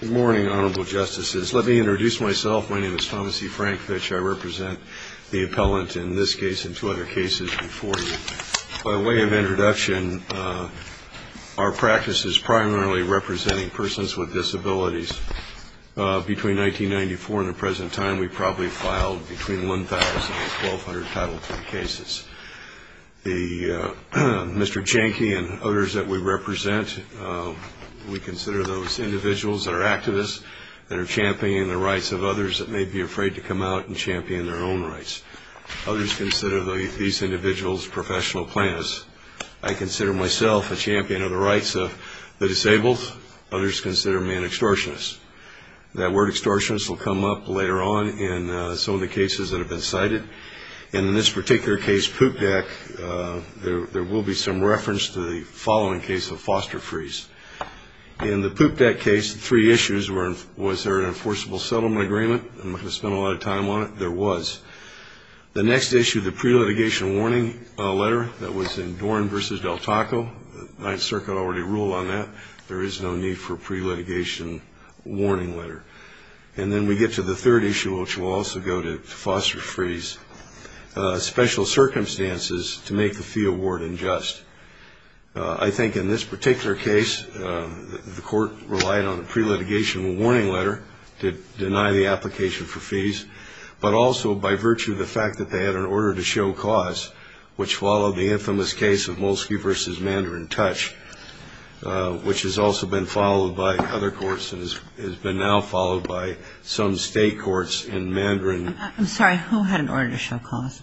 Good morning, Honorable Justices. Let me introduce myself. My name is Thomas E. Frankvich. I represent the appellant in this case and two other cases before you. By way of introduction, our practice is primarily representing persons with disabilities. Between 1994 and the present time, we probably filed between 1,000 and 1,200 Title III cases. Mr. Jahnkey and others that we represent, we consider those individuals that are activists, that are championing the rights of others that may be afraid to come out and champion their own rights. Others consider these individuals professional plaintiffs. I consider myself a champion of the rights of the disabled. Others consider me an extortionist. That word extortionist will come up later on in some of the cases that have been cited. In this particular case, Poop Deck, there will be some reference to the following case of Foster Freeze. In the Poop Deck case, three issues were, was there an enforceable settlement agreement? I'm not going to spend a lot of time on it. There was. The next issue, the pre-litigation warning letter that was in Dorn v. Del Taco, the Ninth Circuit already ruled on that. There is no need for a pre-litigation warning letter. And then we get to the third issue, which will also go to Foster Freeze, special circumstances to make the fee award unjust. I think in this particular case, the court relied on a pre-litigation warning letter to deny the application for fees, but also by virtue of the fact that they had an order to show cause, which followed the infamous case of Molsky v. Mandarin Touch, which has also been followed by other courts and has been now followed by some state courts in Mandarin. I'm sorry, who had an order to show cause?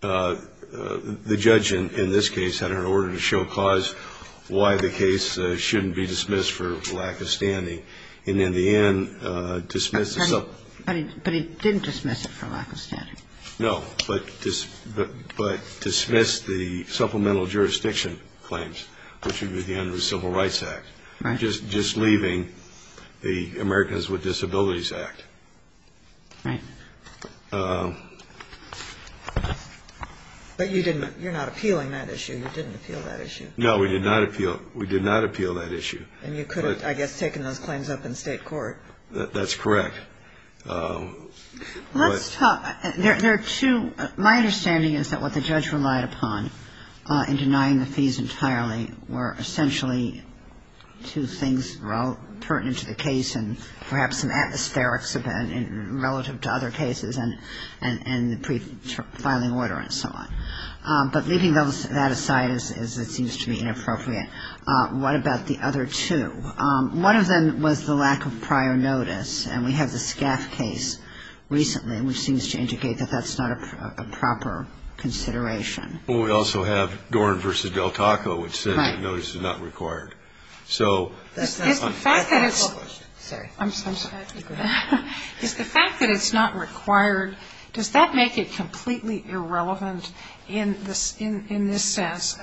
The judge in this case had an order to show cause why the case shouldn't be dismissed for lack of standing. And in the end, dismissed the... But he didn't dismiss it for lack of standing. No, but dismissed the supplemental jurisdiction claims, which would be at the end of the Civil Rights Act, just leaving the Americans with Disabilities Act. Right. But you didn't, you're not appealing that issue. You didn't appeal that issue. No, we did not appeal, we did not appeal that issue. And you could have, I guess, taken those claims up in state court. That's correct. Let's talk, there are two, my understanding is that what the judge relied upon in denying the fees entirely were essentially two things pertinent to the case and perhaps an atmospheric event relative to other cases. And the pre-filing order and so on. But leaving that aside as it seems to be inappropriate, what about the other two? One of them was the lack of prior notice. And we have the Scaff case recently, which seems to indicate that that's not a proper consideration. Well, we also have Doran v. Del Taco, which says that notice is not required. Right. Is the fact that it's not required, does that make it completely irrelevant in this sense?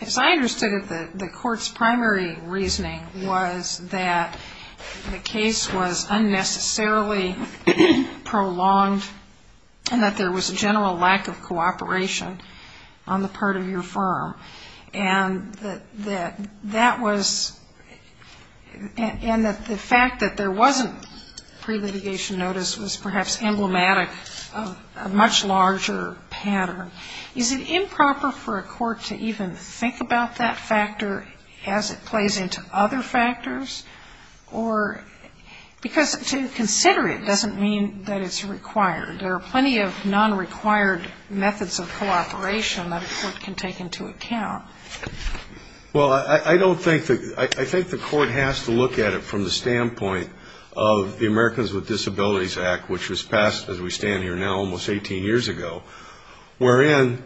As I understood it, the court's primary reasoning was that the case was unnecessarily prolonged and that there was a general lack of cooperation on the part of your firm. And that that was, and that the fact that there wasn't pre-litigation notice was perhaps emblematic of a much larger pattern. Is it improper for a court to even think about that factor as it plays into other factors? Or, because to consider it doesn't mean that it's required. There are plenty of non-required methods of cooperation that a court can take into account. Well, I don't think that, I think the court has to look at it from the standpoint of the Americans with Disabilities Act, which was passed as we stand here now almost 18 years ago, wherein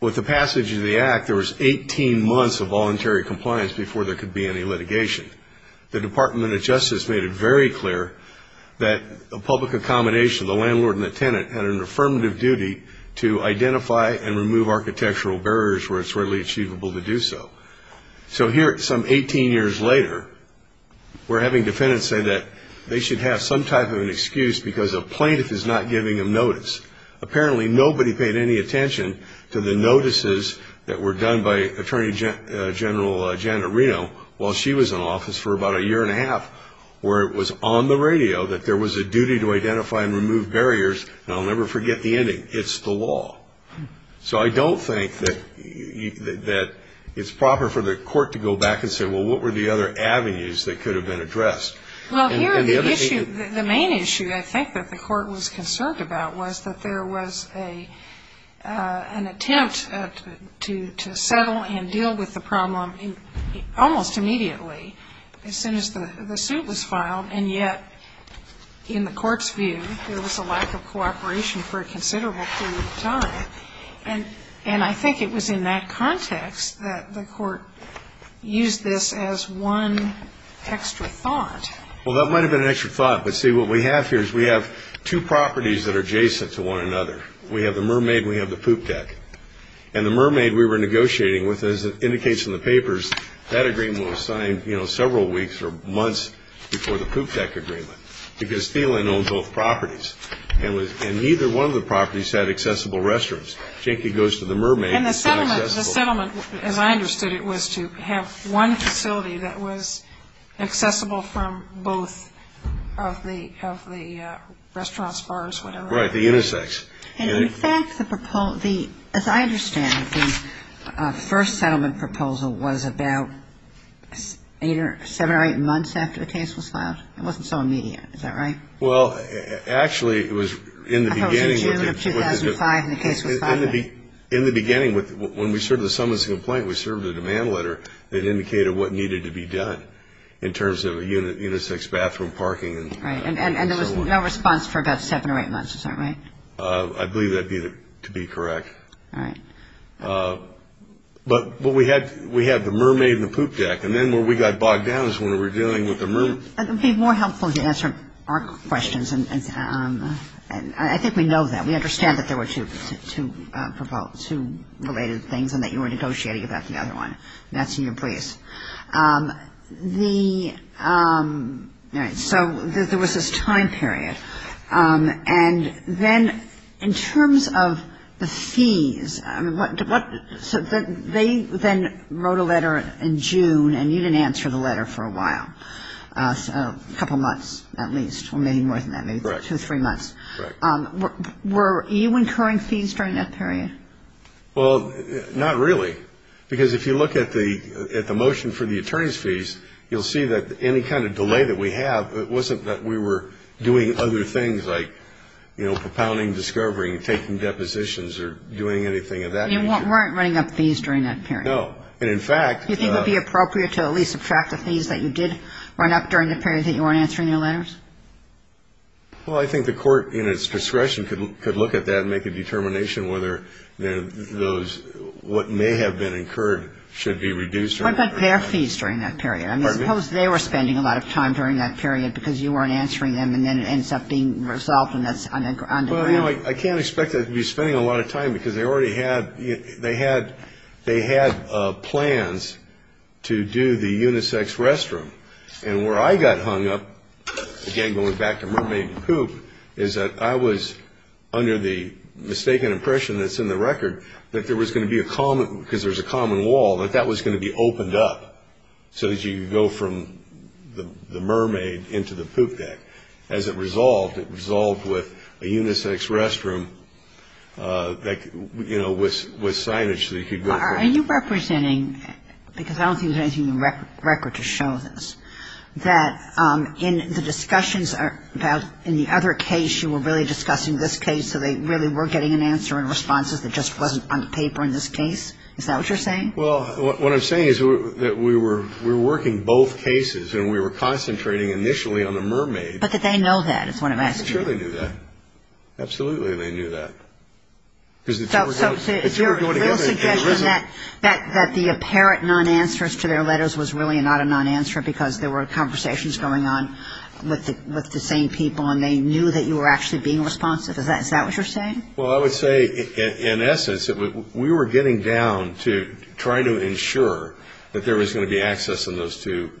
with the passage of the act, there was 18 months of voluntary compliance before there could be any litigation. The Department of Justice made it very clear that a public accommodation, the landlord and the tenant, had an affirmative duty to identify and remove architectural barriers where it's readily achievable to do so. So here, some 18 years later, we're having defendants say that they should have some type of an excuse because a plaintiff is not giving them notice. Apparently, nobody paid any attention to the notices that were done by Attorney General Janet Reno while she was in office for about a year and a half, where it was on the radio that there was a duty to identify and remove barriers. And I'll never forget the ending, it's the law. So I don't think that it's proper for the court to go back and say, well, what were the other avenues that could have been addressed? Well, here the issue, the main issue I think that the court was concerned about was that there was an attempt to settle and deal with the problem almost immediately, as soon as the suit was filed. And yet, in the court's view, there was a lack of cooperation for a considerable period of time. And I think it was in that context that the court used this as one extra thought. Well, that might have been an extra thought. But see, what we have here is we have two properties that are adjacent to one another. We have the Mermaid and we have the Poop Deck. And the Mermaid we were negotiating with, as it indicates in the papers, that agreement was signed several weeks or months before the Poop Deck agreement, because Thielen owned both properties. And neither one of the properties had accessible restrooms. Jenkins goes to the Mermaid. And the settlement, as I understood it, was to have one facility that was accessible from both of the restaurants, bars, whatever. Right, the intersects. And in fact, as I understand it, the first settlement proposal was about seven or eight months after the case was filed. It wasn't so immediate. Is that right? Well, actually, it was in the beginning. I thought it was in June of 2005 when the case was filed. In the beginning, when we served the summons to complaint, we served a demand letter that indicated what needed to be done in terms of a unisex bathroom, parking, and so on. Right. And there was no response for about seven or eight months. Is that right? I believe that to be correct. All right. But we had the Mermaid and the Poop Deck. And then where we got bogged down is when we were dealing with the Mermaid. It would be more helpful to answer our questions. And I think we know that. We understand that there were two related things and that you were negotiating about the other one. That's in your place. All right. So there was this time period. And then in terms of the fees, they then wrote a letter in June, and you didn't answer the letter for a while. A couple months at least, or maybe more than that, maybe two or three months. Correct. Were you incurring fees during that period? Well, not really. Because if you look at the motion for the attorney's fees, you'll see that any kind of delay that we have, it wasn't that we were doing other things like, you know, propounding, discovering, taking depositions, or doing anything of that nature. You weren't running up fees during that period. No. You think it would be appropriate to at least subtract the fees that you did run up during the period that you weren't answering your letters? Well, I think the court in its discretion could look at that and make a determination whether those what may have been incurred should be reduced or not. What about their fees during that period? I mean, suppose they were spending a lot of time during that period because you weren't answering them, and then it ends up being resolved and that's on the ground. Well, you know, I can't expect that they'd be spending a lot of time because they already had plans to do the unisex restroom. And where I got hung up, again going back to mermaid poop, is that I was under the mistaken impression that's in the record that there was going to be a common, because there's a common wall, that that was going to be opened up so that you could go from the mermaid into the poop deck. As it resolved, it resolved with a unisex restroom that, you know, was signage that you could go from. Are you representing, because I don't think there's anything in the record to show this, that in the discussions about in the other case you were really discussing this case so they really were getting an answer in responses that just wasn't on the paper in this case? Is that what you're saying? Well, what I'm saying is that we were working both cases, and we were concentrating initially on the mermaid. But that they know that is what I'm asking. I'm sure they knew that. Absolutely they knew that. So it's your real suggestion that the apparent non-answers to their letters was really not a non-answer because there were conversations going on with the same people, and they knew that you were actually being responsive. Is that what you're saying? Well, I would say, in essence, that we were getting down to trying to ensure that there was going to be access in those two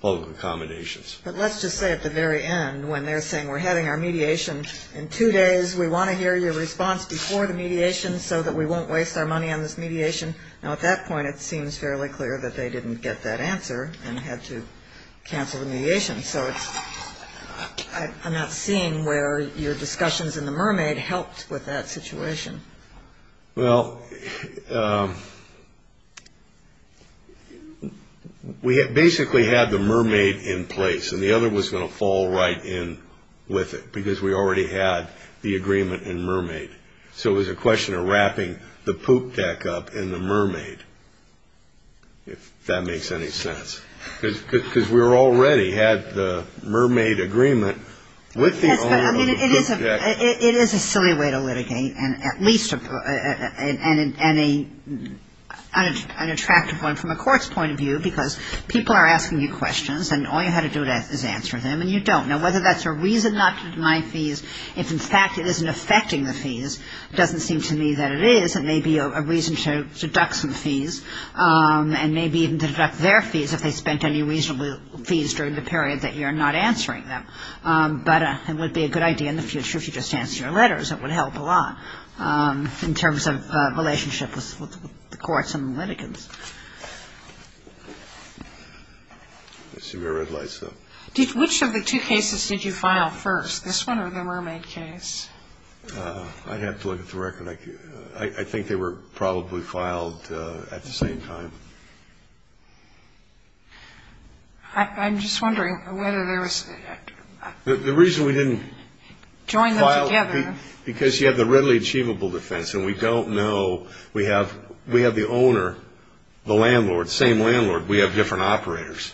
public accommodations. But let's just say at the very end when they're saying we're having our mediation in two days, we want to hear your response before the mediation so that we won't waste our money on this mediation. Now, at that point, it seems fairly clear that they didn't get that answer and had to cancel the mediation. So I'm not seeing where your discussions in the mermaid helped with that situation. Well, we basically had the mermaid in place, and the other was going to fall right in with it because we already had the agreement in mermaid. So it was a question of wrapping the poop deck up in the mermaid, if that makes any sense, because we already had the mermaid agreement with the owner of the poop deck. Yes, but, I mean, it is a silly way to litigate, and at least an unattractive one from a court's point of view because people are asking you questions, and all you have to do is answer them, and you don't. Now, whether that's a reason not to deny fees, if, in fact, it isn't affecting the fees, it doesn't seem to me that it is and may be a reason to deduct some fees and maybe even deduct their fees if they spent any reasonable fees during the period that you're not answering them. But it would be a good idea in the future if you just answer your letters. It would help a lot in terms of relationships with the courts and the litigants. I see red lights, though. Which of the two cases did you file first, this one or the mermaid case? I'd have to look at the record. I think they were probably filed at the same time. I'm just wondering whether there was – The reason we didn't file – Join them together. Because you have the readily achievable defense, and we don't know. We have the owner, the landlord, same landlord. We have different operators.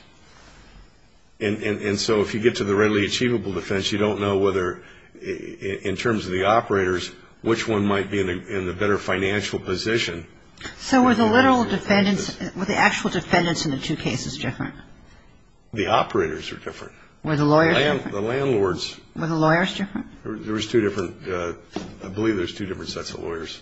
And so if you get to the readily achievable defense, you don't know whether in terms of the operators, which one might be in the better financial position. So were the literal defendants – were the actual defendants in the two cases different? The operators are different. Were the lawyers different? The landlords – Were the lawyers different? There was two different – I believe there was two different sets of lawyers.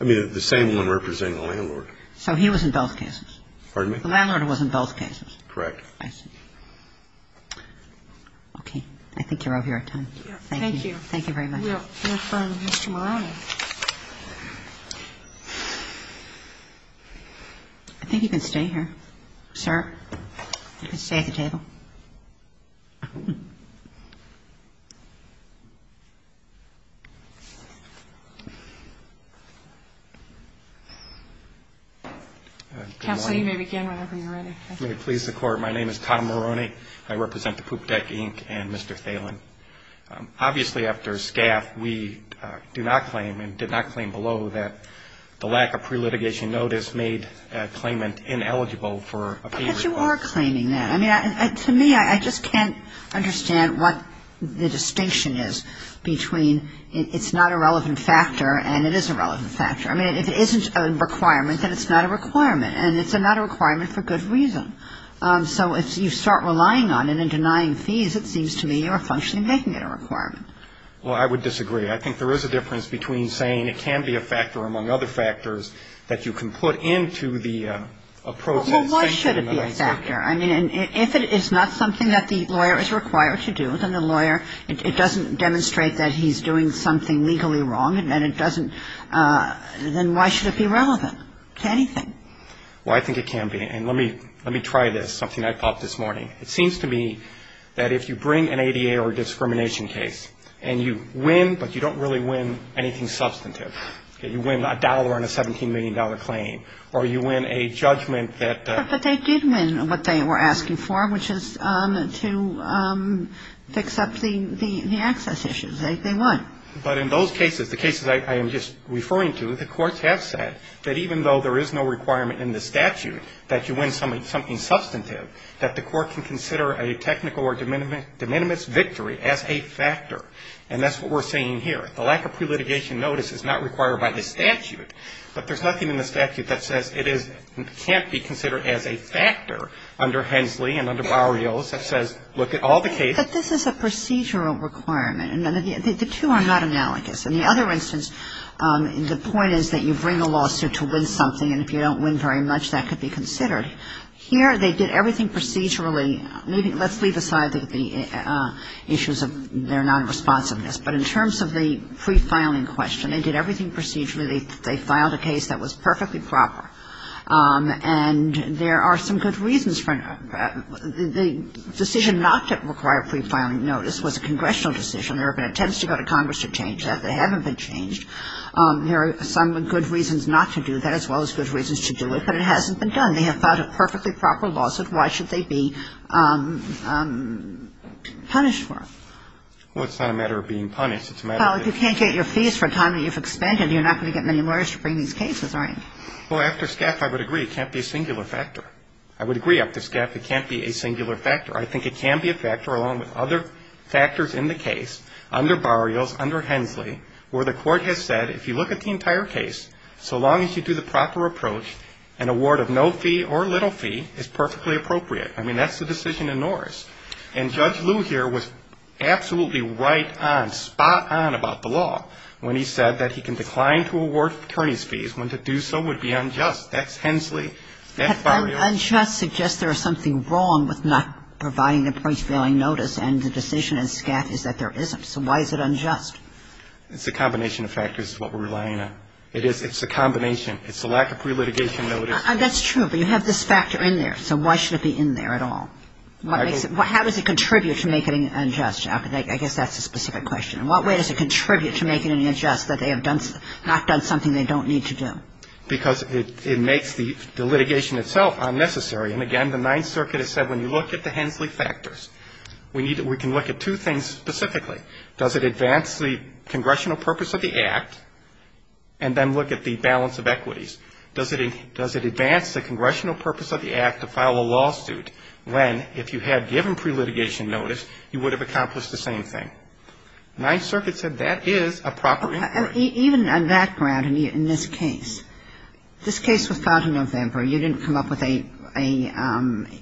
I mean, the same one representing the landlord. So he was in both cases? Pardon me? The landlord was in both cases? Correct. I see. Okay. I think you're over your time. Thank you. Thank you. Thank you very much. We'll defer to Mr. Morrone. I think you can stay here, sir. You can stay at the table. Counsel, you may begin whenever you're ready. May it please the Court. Thank you, Your Honor. My name is Tom Morrone. I represent the Poop Deck, Inc. and Mr. Thalen. Obviously, after SCAF, we do not claim and did not claim below that the lack of pre-litigation notice made a claimant ineligible for a payment. But you are claiming that. I mean, to me, I just can't understand what the distinction is between it's not a relevant factor and it is a relevant factor. I mean, if it isn't a requirement, then it's not a requirement. And it's not a requirement for good reason. So if you start relying on it and denying fees, it seems to me you're functionally making it a requirement. Well, I would disagree. I think there is a difference between saying it can be a factor among other factors that you can put into the approach. Well, why should it be a factor? I mean, if it is not something that the lawyer is required to do, then the lawyer, it doesn't demonstrate that he's doing something legally wrong, and it doesn't, then why should it be relevant to anything? Well, I think it can be. And let me try this, something I thought this morning. It seems to me that if you bring an ADA or a discrimination case and you win, but you don't really win anything substantive, you win a dollar on a $17 million claim or you win a judgment that the ---- But in those cases, the cases I am just referring to, the courts have said that even though there is no requirement in the statute that you win something substantive, that the court can consider a technical or de minimis victory as a factor. And that's what we're saying here. The lack of pre-litigation notice is not required by the statute. But there's nothing in the statute that says it is, can't be considered as a factor under Hensley and under Barrios that says, look at all the cases ---- But this is a procedural requirement. And the two are not analogous. In the other instance, the point is that you bring a lawsuit to win something, and if you don't win very much, that could be considered. Here they did everything procedurally. Let's leave aside the issues of their nonresponsiveness. But in terms of the pre-filing question, they did everything procedurally. They filed a case that was perfectly proper. And there are some good reasons for it. The decision not to require pre-filing notice was a congressional decision. There have been attempts to go to Congress to change that. They haven't been changed. There are some good reasons not to do that, as well as good reasons to do it. But it hasn't been done. They have filed a perfectly proper lawsuit. Why should they be punished for it? Well, it's not a matter of being punished. It's a matter of being ---- Well, if you can't get your fees for a time that you've expended, you're not going to get many lawyers to bring these cases, right? Well, after SCAF, I would agree, it can't be a singular factor. I would agree after SCAF it can't be a singular factor. I think it can be a factor, along with other factors in the case, under Barrios, under Hensley, where the court has said, if you look at the entire case, so long as you do the proper approach, an award of no fee or little fee is perfectly appropriate. I mean, that's the decision in Norris. And Judge Lew here was absolutely right on, spot on about the law, when he said that he can decline to award attorneys' fees when to do so would be unjust. That's Hensley. That's Barrios. But unjust suggests there is something wrong with not providing a price-vailing notice, and the decision in SCAF is that there isn't. So why is it unjust? It's a combination of factors is what we're relying on. It is ---- it's a combination. It's the lack of pre-litigation notice. That's true, but you have this factor in there. So why should it be in there at all? How does it contribute to make it unjust? I guess that's a specific question. In what way does it contribute to making it unjust that they have not done something they don't need to do? Because it makes the litigation itself unnecessary. And, again, the Ninth Circuit has said when you look at the Hensley factors, we can look at two things specifically. Does it advance the congressional purpose of the Act and then look at the balance of equities? Does it advance the congressional purpose of the Act to file a lawsuit when, if you had given pre-litigation notice, you would have accomplished the same thing? Ninth Circuit said that is a proper inquiry. Even on that ground in this case, this case was filed in November. You didn't come up with an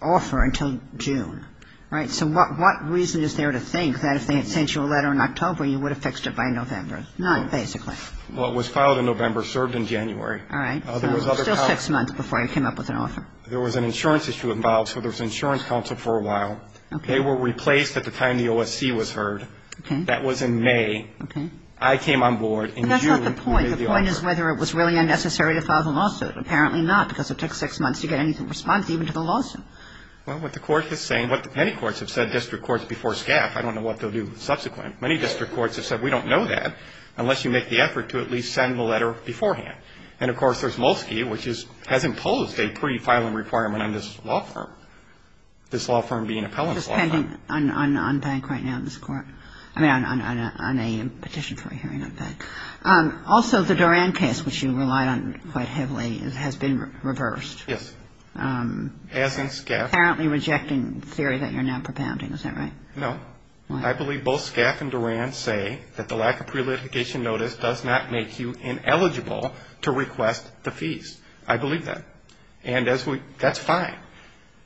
offer until June, right? So what reason is there to think that if they had sent you a letter in October, you would have fixed it by November? Not basically. Well, it was filed in November, served in January. All right. Still six months before you came up with an offer. There was an insurance issue involved, so there was an insurance counsel for a while. Okay. They were replaced at the time the OSC was heard. Okay. That was in May. Okay. I came on board in June. But that's not the point. The point is whether it was really unnecessary to file the lawsuit. Apparently not, because it took six months to get any response even to the lawsuit. Well, what the Court is saying, what many courts have said, district courts before SCAF, I don't know what they'll do subsequent. Many district courts have said we don't know that unless you make the effort to at least send the letter beforehand. And, of course, there's Molsky, which has imposed a pre-filing requirement on this law firm. This law firm being an appellant's law firm. It's pending on bank right now in this Court. I mean, on a petition for a hearing on bank. Also, the Duran case, which you relied on quite heavily, has been reversed. Yes. As in SCAF. Apparently rejecting the theory that you're now propounding. Is that right? No. I believe both SCAF and Duran say that the lack of pre-litigation notice does not make you ineligible to request the fees. I believe that. And that's fine.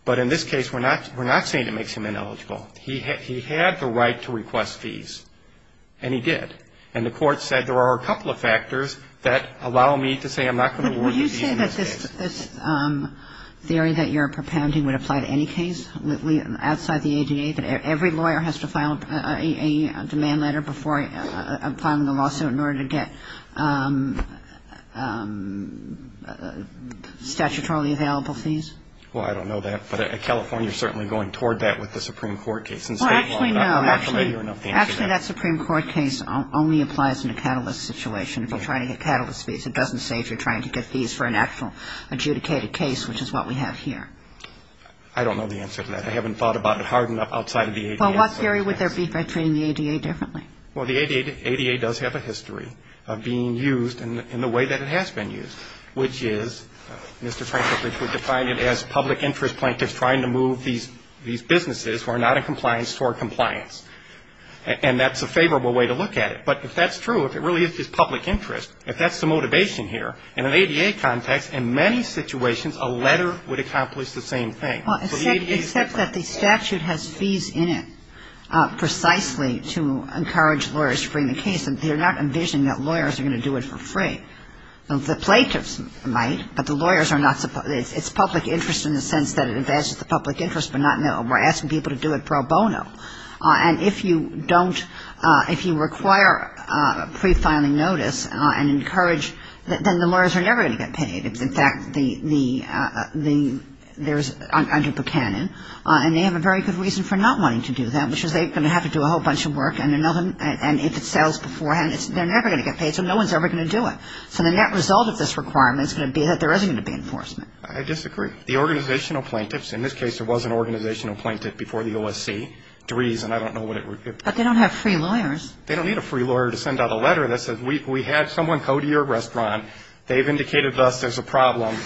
But in this case, we're not saying it makes him ineligible. He had the right to request fees. And he did. And the Court said there are a couple of factors that allow me to say I'm not going to award the fees in this case. Would you say that this theory that you're propounding would apply to any case outside the ADA, that every lawyer has to file a demand letter before filing the lawsuit in order to get statutorily available fees? Well, I don't know that. But California is certainly going toward that with the Supreme Court case. Actually, no. Actually, that Supreme Court case only applies in a catalyst situation. If you're trying to get catalyst fees, it doesn't say if you're trying to get fees for an actual adjudicated case, which is what we have here. I don't know the answer to that. I haven't thought about it hard enough outside of the ADA. Well, what theory would there be by treating the ADA differently? Well, the ADA does have a history of being used in the way that it has been used, which is, Mr. Franklin, which would define it as public interest plaintiffs trying to move these businesses who are not in compliance toward compliance. And that's a favorable way to look at it. But if that's true, if it really is public interest, if that's the motivation here, in an ADA context, in many situations, a letter would accomplish the same thing. Well, except that the statute has fees in it precisely to encourage lawyers to bring the case. They're not envisioning that lawyers are going to do it for free. The plaintiffs might, but the lawyers are not supposed to. It's public interest in the sense that it advances the public interest, but we're asking people to do it pro bono. And if you don't, if you require pre-filing notice and encourage, then the lawyers are never going to get paid. In fact, there's under Buchanan, and they have a very good reason for not wanting to do that, which is they're going to have to do a whole bunch of work, and if it sells beforehand, they're never going to get paid, so no one's ever going to do it. So the net result of this requirement is going to be that there isn't going to be enforcement. I disagree. The organizational plaintiffs, in this case, there was an organizational plaintiff before the OSC to reason. I don't know what it would be. But they don't have free lawyers. They don't need a free lawyer to send out a letter that says we had someone go to your restaurant. They've indicated thus there's a problem.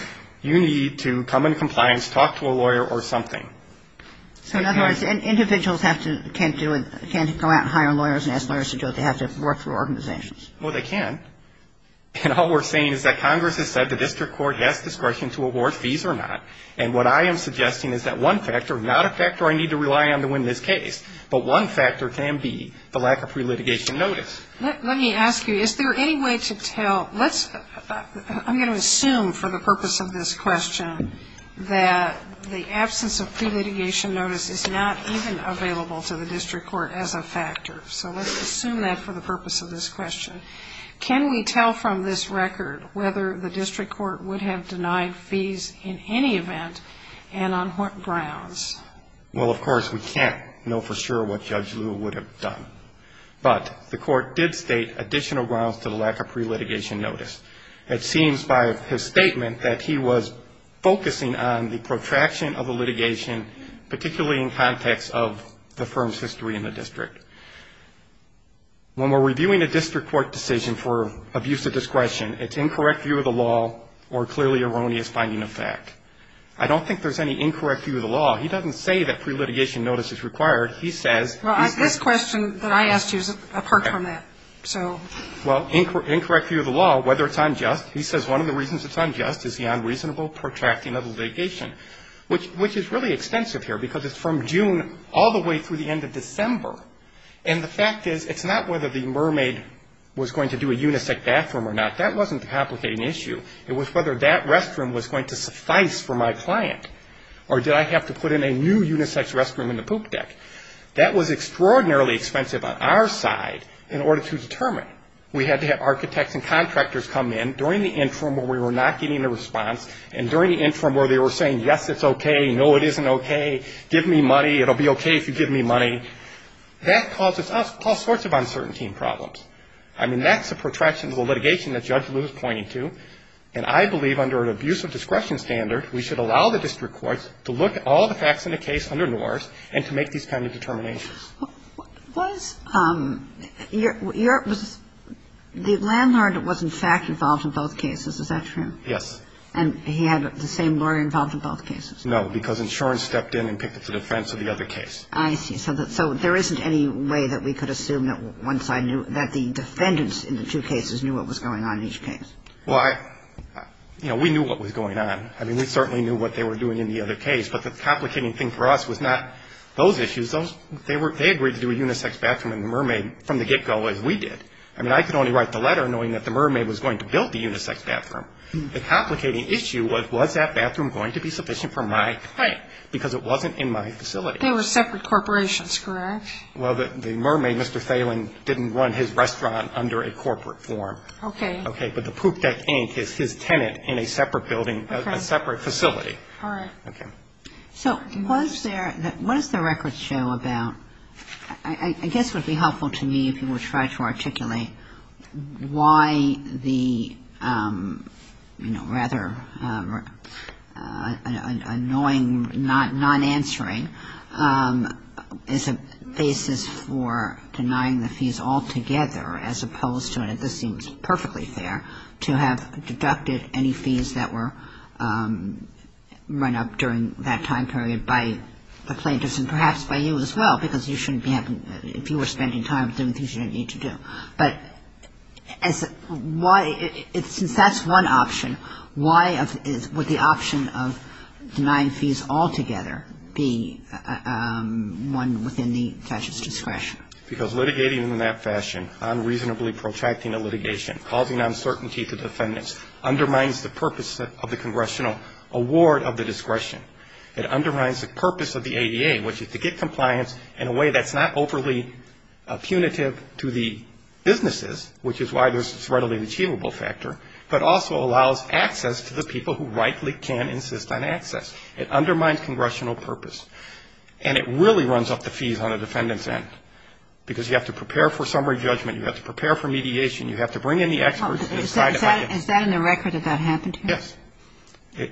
You need to come into compliance, talk to a lawyer or something. So in other words, individuals have to, can't do it, can't go out and hire lawyers and ask lawyers to do it. They have to work through organizations. Well, they can. And all we're saying is that Congress has said the district court has discretion to award fees or not, and what I am suggesting is that one factor, not a factor I need to rely on to win this case, but one factor can be the lack of pre-litigation notice. Let me ask you, is there any way to tell, let's, I'm going to assume for the purpose of this question, that the absence of pre-litigation notice is not even available to the district court as a factor. So let's assume that for the purpose of this question. Can we tell from this record whether the district court would have denied fees in any event and on what grounds? Well, of course, we can't know for sure what Judge Lew would have done. But the court did state additional grounds to the lack of pre-litigation notice. It seems by his statement that he was focusing on the protraction of the litigation, particularly in context of the firm's history in the district. When we're reviewing a district court decision for abuse of discretion, it's incorrect view of the law or clearly erroneous finding of fact. I don't think there's any incorrect view of the law. He doesn't say that pre-litigation notice is required. He says. Well, this question that I asked you is apart from that. Well, incorrect view of the law, whether it's unjust. He says one of the reasons it's unjust is the unreasonable protracting of the litigation, which is really extensive here because it's from June all the way through the end of December. And the fact is it's not whether the mermaid was going to do a unisex bathroom or not. That wasn't the complicating issue. It was whether that restroom was going to suffice for my client or did I have to put in a new unisex restroom in the poop deck. That was extraordinarily expensive on our side in order to determine. We had to have architects and contractors come in during the interim where we were not getting a response and during the interim where they were saying, yes, it's okay, no, it isn't okay, give me money, it'll be okay if you give me money. That causes us all sorts of uncertainty and problems. I mean, that's the protraction of the litigation that Judge Lewis is pointing to. And I believe under an abuse of discretion standard, we should allow the district courts to look at all the facts in the case under NORS and to make these kind of determinations. Was your – the landlord was, in fact, involved in both cases. Is that true? Yes. And he had the same lawyer involved in both cases? No, because insurance stepped in and picked up the defense of the other case. I see. So there isn't any way that we could assume that once I knew – that the defendants in the two cases knew what was going on in each case. Well, I – you know, we knew what was going on. I mean, we certainly knew what they were doing in the other case. But the complicating thing for us was not those issues. They agreed to do a unisex bathroom in the Mermaid from the get-go as we did. I mean, I could only write the letter knowing that the Mermaid was going to build the unisex bathroom. The complicating issue was, was that bathroom going to be sufficient for my claim? Right. Because it wasn't in my facility. They were separate corporations, correct? Well, the Mermaid, Mr. Thelen, didn't run his restaurant under a corporate form. Okay. Okay. But the Poop Deck Inc. is his tenant in a separate building, a separate facility. Okay. All right. Okay. So was there – what does the records show about – I guess it would be helpful to me if you would try to articulate why the, you know, rather annoying non-answering is a basis for denying the fees altogether, as opposed to – and this seems perfectly fair – to have deducted any fees that were run up during that time period by the plaintiffs and perhaps by you as well, because you shouldn't be having – if you were spending time doing things you didn't need to do. But as – why – since that's one option, why would the option of denying fees altogether be one within the judge's discretion? Because litigating in that fashion, unreasonably protracting a litigation, causing uncertainty to defendants, undermines the purpose of the congressional award of the discretion. It undermines the purpose of the ADA, which is to get compliance in a way that's not overly punitive to the businesses, which is why there's this readily achievable factor, but also allows access to the people who rightly can insist on access. It undermines congressional purpose. And it really runs up the fees on the defendant's end, because you have to prepare for summary judgment. You have to prepare for mediation. You have to bring in the experts to decide if I can – Is that in the record if that happened to you? Yes.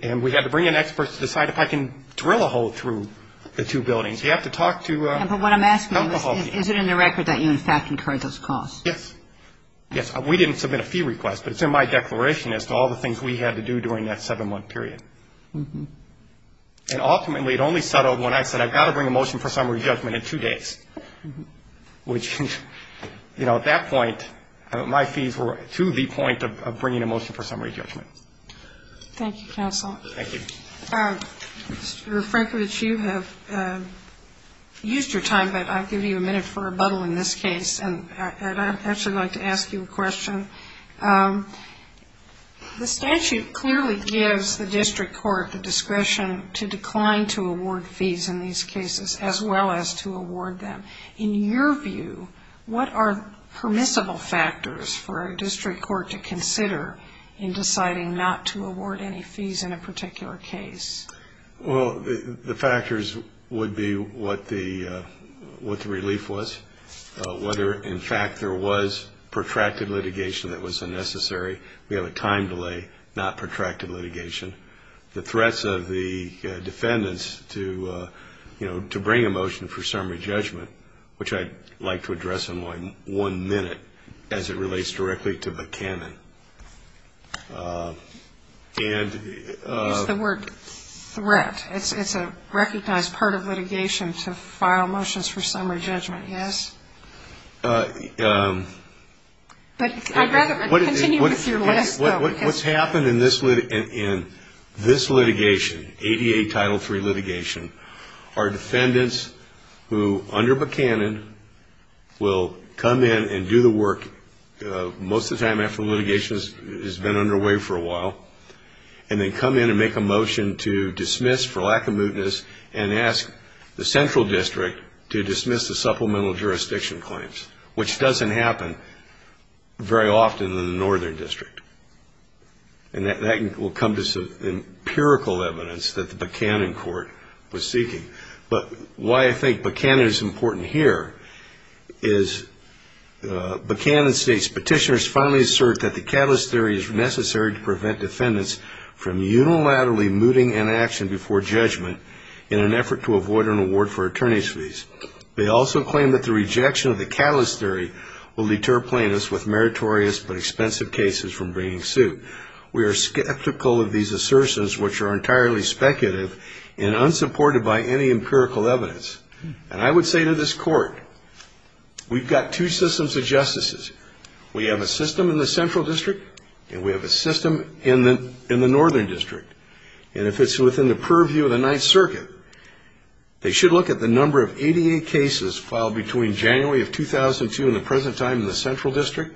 And we had to bring in experts to decide if I can drill a hole through the two buildings. You have to talk to – But what I'm asking is, is it in the record that you, in fact, incurred those costs? Yes. Yes, we didn't submit a fee request, but it's in my declaration as to all the things we had to do during that seven-month period. And ultimately, it only settled when I said, I've got to bring a motion for summary judgment in two days, which, you know, at that point, my fees were to the point of bringing a motion for summary judgment. Thank you, counsel. Thank you. Mr. Frankovich, you have used your time, but I'll give you a minute for rebuttal in this case. And I'd actually like to ask you a question. The statute clearly gives the district court the discretion to decline to award fees in these cases, as well as to award them. In your view, what are permissible factors for a district court to consider in deciding not to award any fees in a particular case? Well, the factors would be what the relief was, whether, in fact, there was protracted litigation that was unnecessary. We have a time delay, not protracted litigation. The threats of the defendants to, you know, to bring a motion for summary judgment, which I'd like to address in one minute as it relates directly to the canon. You used the word threat. It's a recognized part of litigation to file motions for summary judgment, yes? But I'd rather continue with your list, though. What's happened in this litigation, ADA Title III litigation, are defendants who, under the canon, will come in and do the work most of the time after litigation has been underway for a while, and then come in and make a motion to dismiss for lack of mootness and ask the central district to dismiss the supplemental jurisdiction claims, which doesn't happen very often in the northern district. And that will come as empirical evidence that the Buchanan court was seeking. But why I think Buchanan is important here is Buchanan states, Petitioners finally assert that the catalyst theory is necessary to prevent defendants from unilaterally mooting an action before judgment in an effort to avoid an award for attorney's fees. They also claim that the rejection of the catalyst theory will deter plaintiffs with meritorious but expensive cases from bringing suit. We are skeptical of these assertions, which are entirely speculative and unsupported by any empirical evidence. And I would say to this court, we've got two systems of justices. We have a system in the central district, and we have a system in the northern district. And if it's within the purview of the Ninth Circuit, they should look at the number of 88 cases filed between January of 2002 in the present time in the central district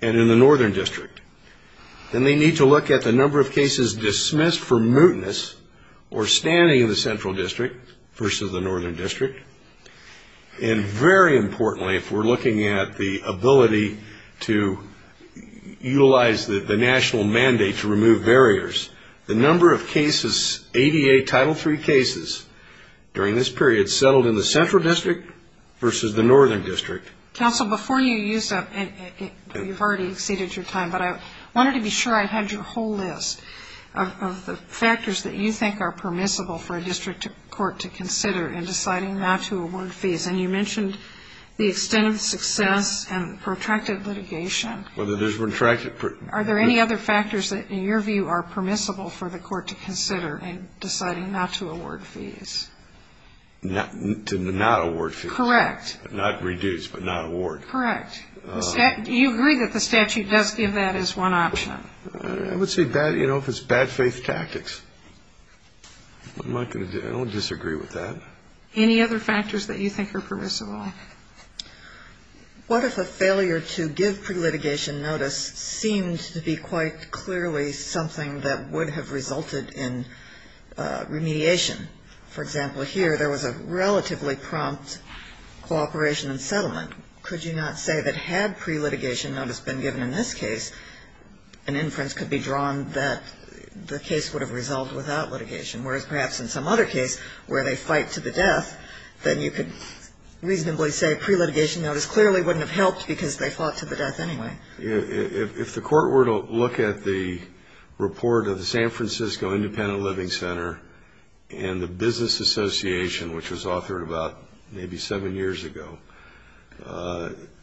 and in the northern district. Then they need to look at the number of cases dismissed for mootness or standing in the central district versus the northern district. And very importantly, if we're looking at the ability to utilize the national mandate to remove barriers, the number of cases, 88 Title III cases during this period settled in the central district versus the northern district. Counsel, before you use that, you've already exceeded your time, but I wanted to be sure I had your whole list of the factors that you think are permissible for a district court to consider in deciding not to award fees. And you mentioned the extent of success and protracted litigation. Are there any other factors that, in your view, are permissible for the court to consider in deciding not to award fees? To not award fees. Correct. Not reduce, but not award. Correct. Do you agree that the statute does give that as one option? I would say, you know, if it's bad faith tactics. I don't disagree with that. Any other factors that you think are permissible? What if a failure to give pre-litigation notice seemed to be quite clearly something that would have resulted in remediation? For example, here, there was a relatively prompt cooperation and settlement. Could you not say that had pre-litigation notice been given in this case, an inference could be drawn that the case would have resolved without litigation? Whereas, perhaps in some other case where they fight to the death, then you could reasonably say pre-litigation notice clearly wouldn't have helped because they fought to the death anyway. If the court were to look at the report of the San Francisco Independent Living Center and say, you know, and the Business Association, which was authored about maybe seven years ago,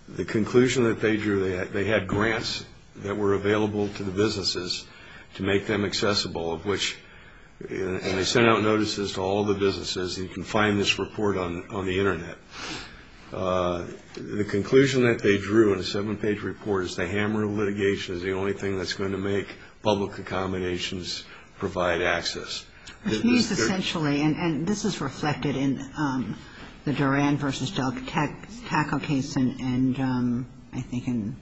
the conclusion that they drew, they had grants that were available to the businesses to make them accessible, and they sent out notices to all the businesses, you can find this report on the Internet. The conclusion that they drew in a seven-page report is the hammer of litigation is the only thing that's going to make public accommodations provide access. And this is reflected in the Duran v. Delcatecco case and I think in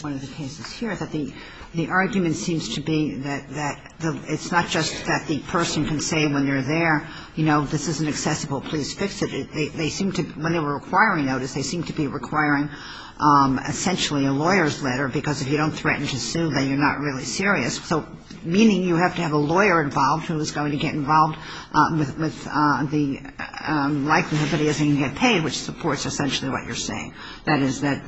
one of the cases here, that the argument seems to be that it's not just that the person can say when you're there, you know, this isn't accessible, please fix it. They seem to, when they were requiring notice, they seem to be requiring essentially a lawyer's letter because if you don't threaten to sue, then you're not really serious. So meaning you have to have a lawyer involved who is going to get involved with the likelihood that he isn't going to get paid, which supports essentially what you're saying. That is, that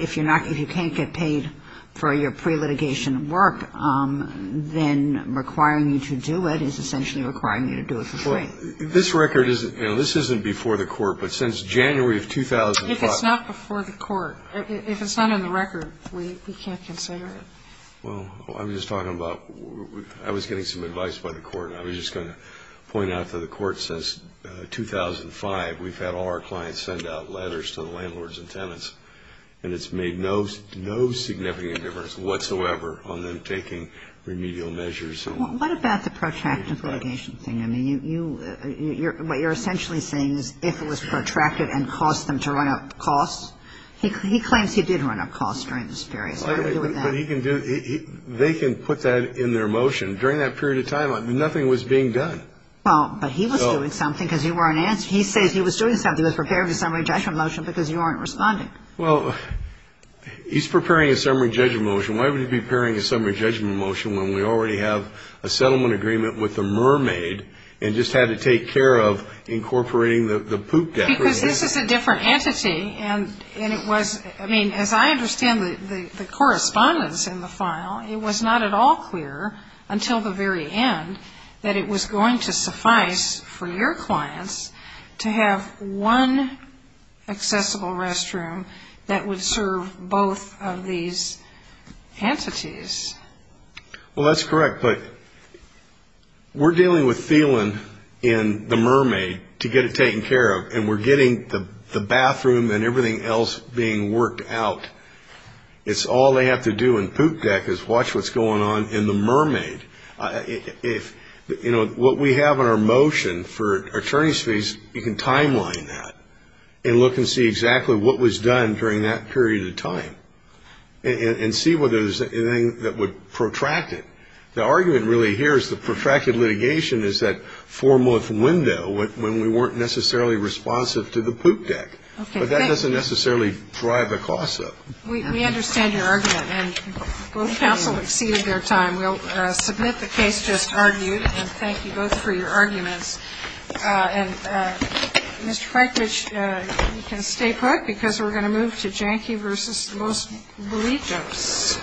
if you're not, if you can't get paid for your pre-litigation work, then requiring you to do it is essentially requiring you to do it for free. This record is, you know, this isn't before the court, but since January of 2005. If it's not before the court, if it's not in the record, we can't consider it. Well, I'm just talking about, I was getting some advice by the court and I was just going to point out to the court since 2005, we've had all our clients send out letters to the landlords and tenants and it's made no significant difference whatsoever on them taking remedial measures. Well, what about the protracted litigation thing? I mean, you, what you're essentially saying is if it was protracted and caused them to run up costs. He claims he did run up costs during this period. But he can do, they can put that in their motion. During that period of time, nothing was being done. Well, but he was doing something because you weren't answering. He says he was doing something, he was preparing a summary judgment motion because you weren't responding. Well, he's preparing a summary judgment motion. Why would he be preparing a summary judgment motion when we already have a settlement agreement with the mermaid and just had to take care of incorporating the poop decoration? Because this is a different entity and it was, I mean, as I understand the correspondence in the file, it was not at all clear until the very end that it was going to suffice for your clients to have one accessible restroom that would serve both of these entities. Well, that's correct. But we're dealing with Thelen and the mermaid to get it taken care of. And we're getting the bathroom and everything else being worked out. It's all they have to do in poop deck is watch what's going on in the mermaid. If, you know, what we have in our motion for attorney's fees, you can timeline that and look and see exactly what was done during that period of time and see whether there's anything that would protract it. The argument really here is the protracted litigation is that four-month window when we weren't necessarily responsive to the poop deck. But that doesn't necessarily drive the cost up. We understand your argument. And both counsel exceeded their time. We'll submit the case just argued. And thank you both for your arguments. And, Mr. Franklich, you can stay put because we're going to move to Janky versus the Most Believed Jokes.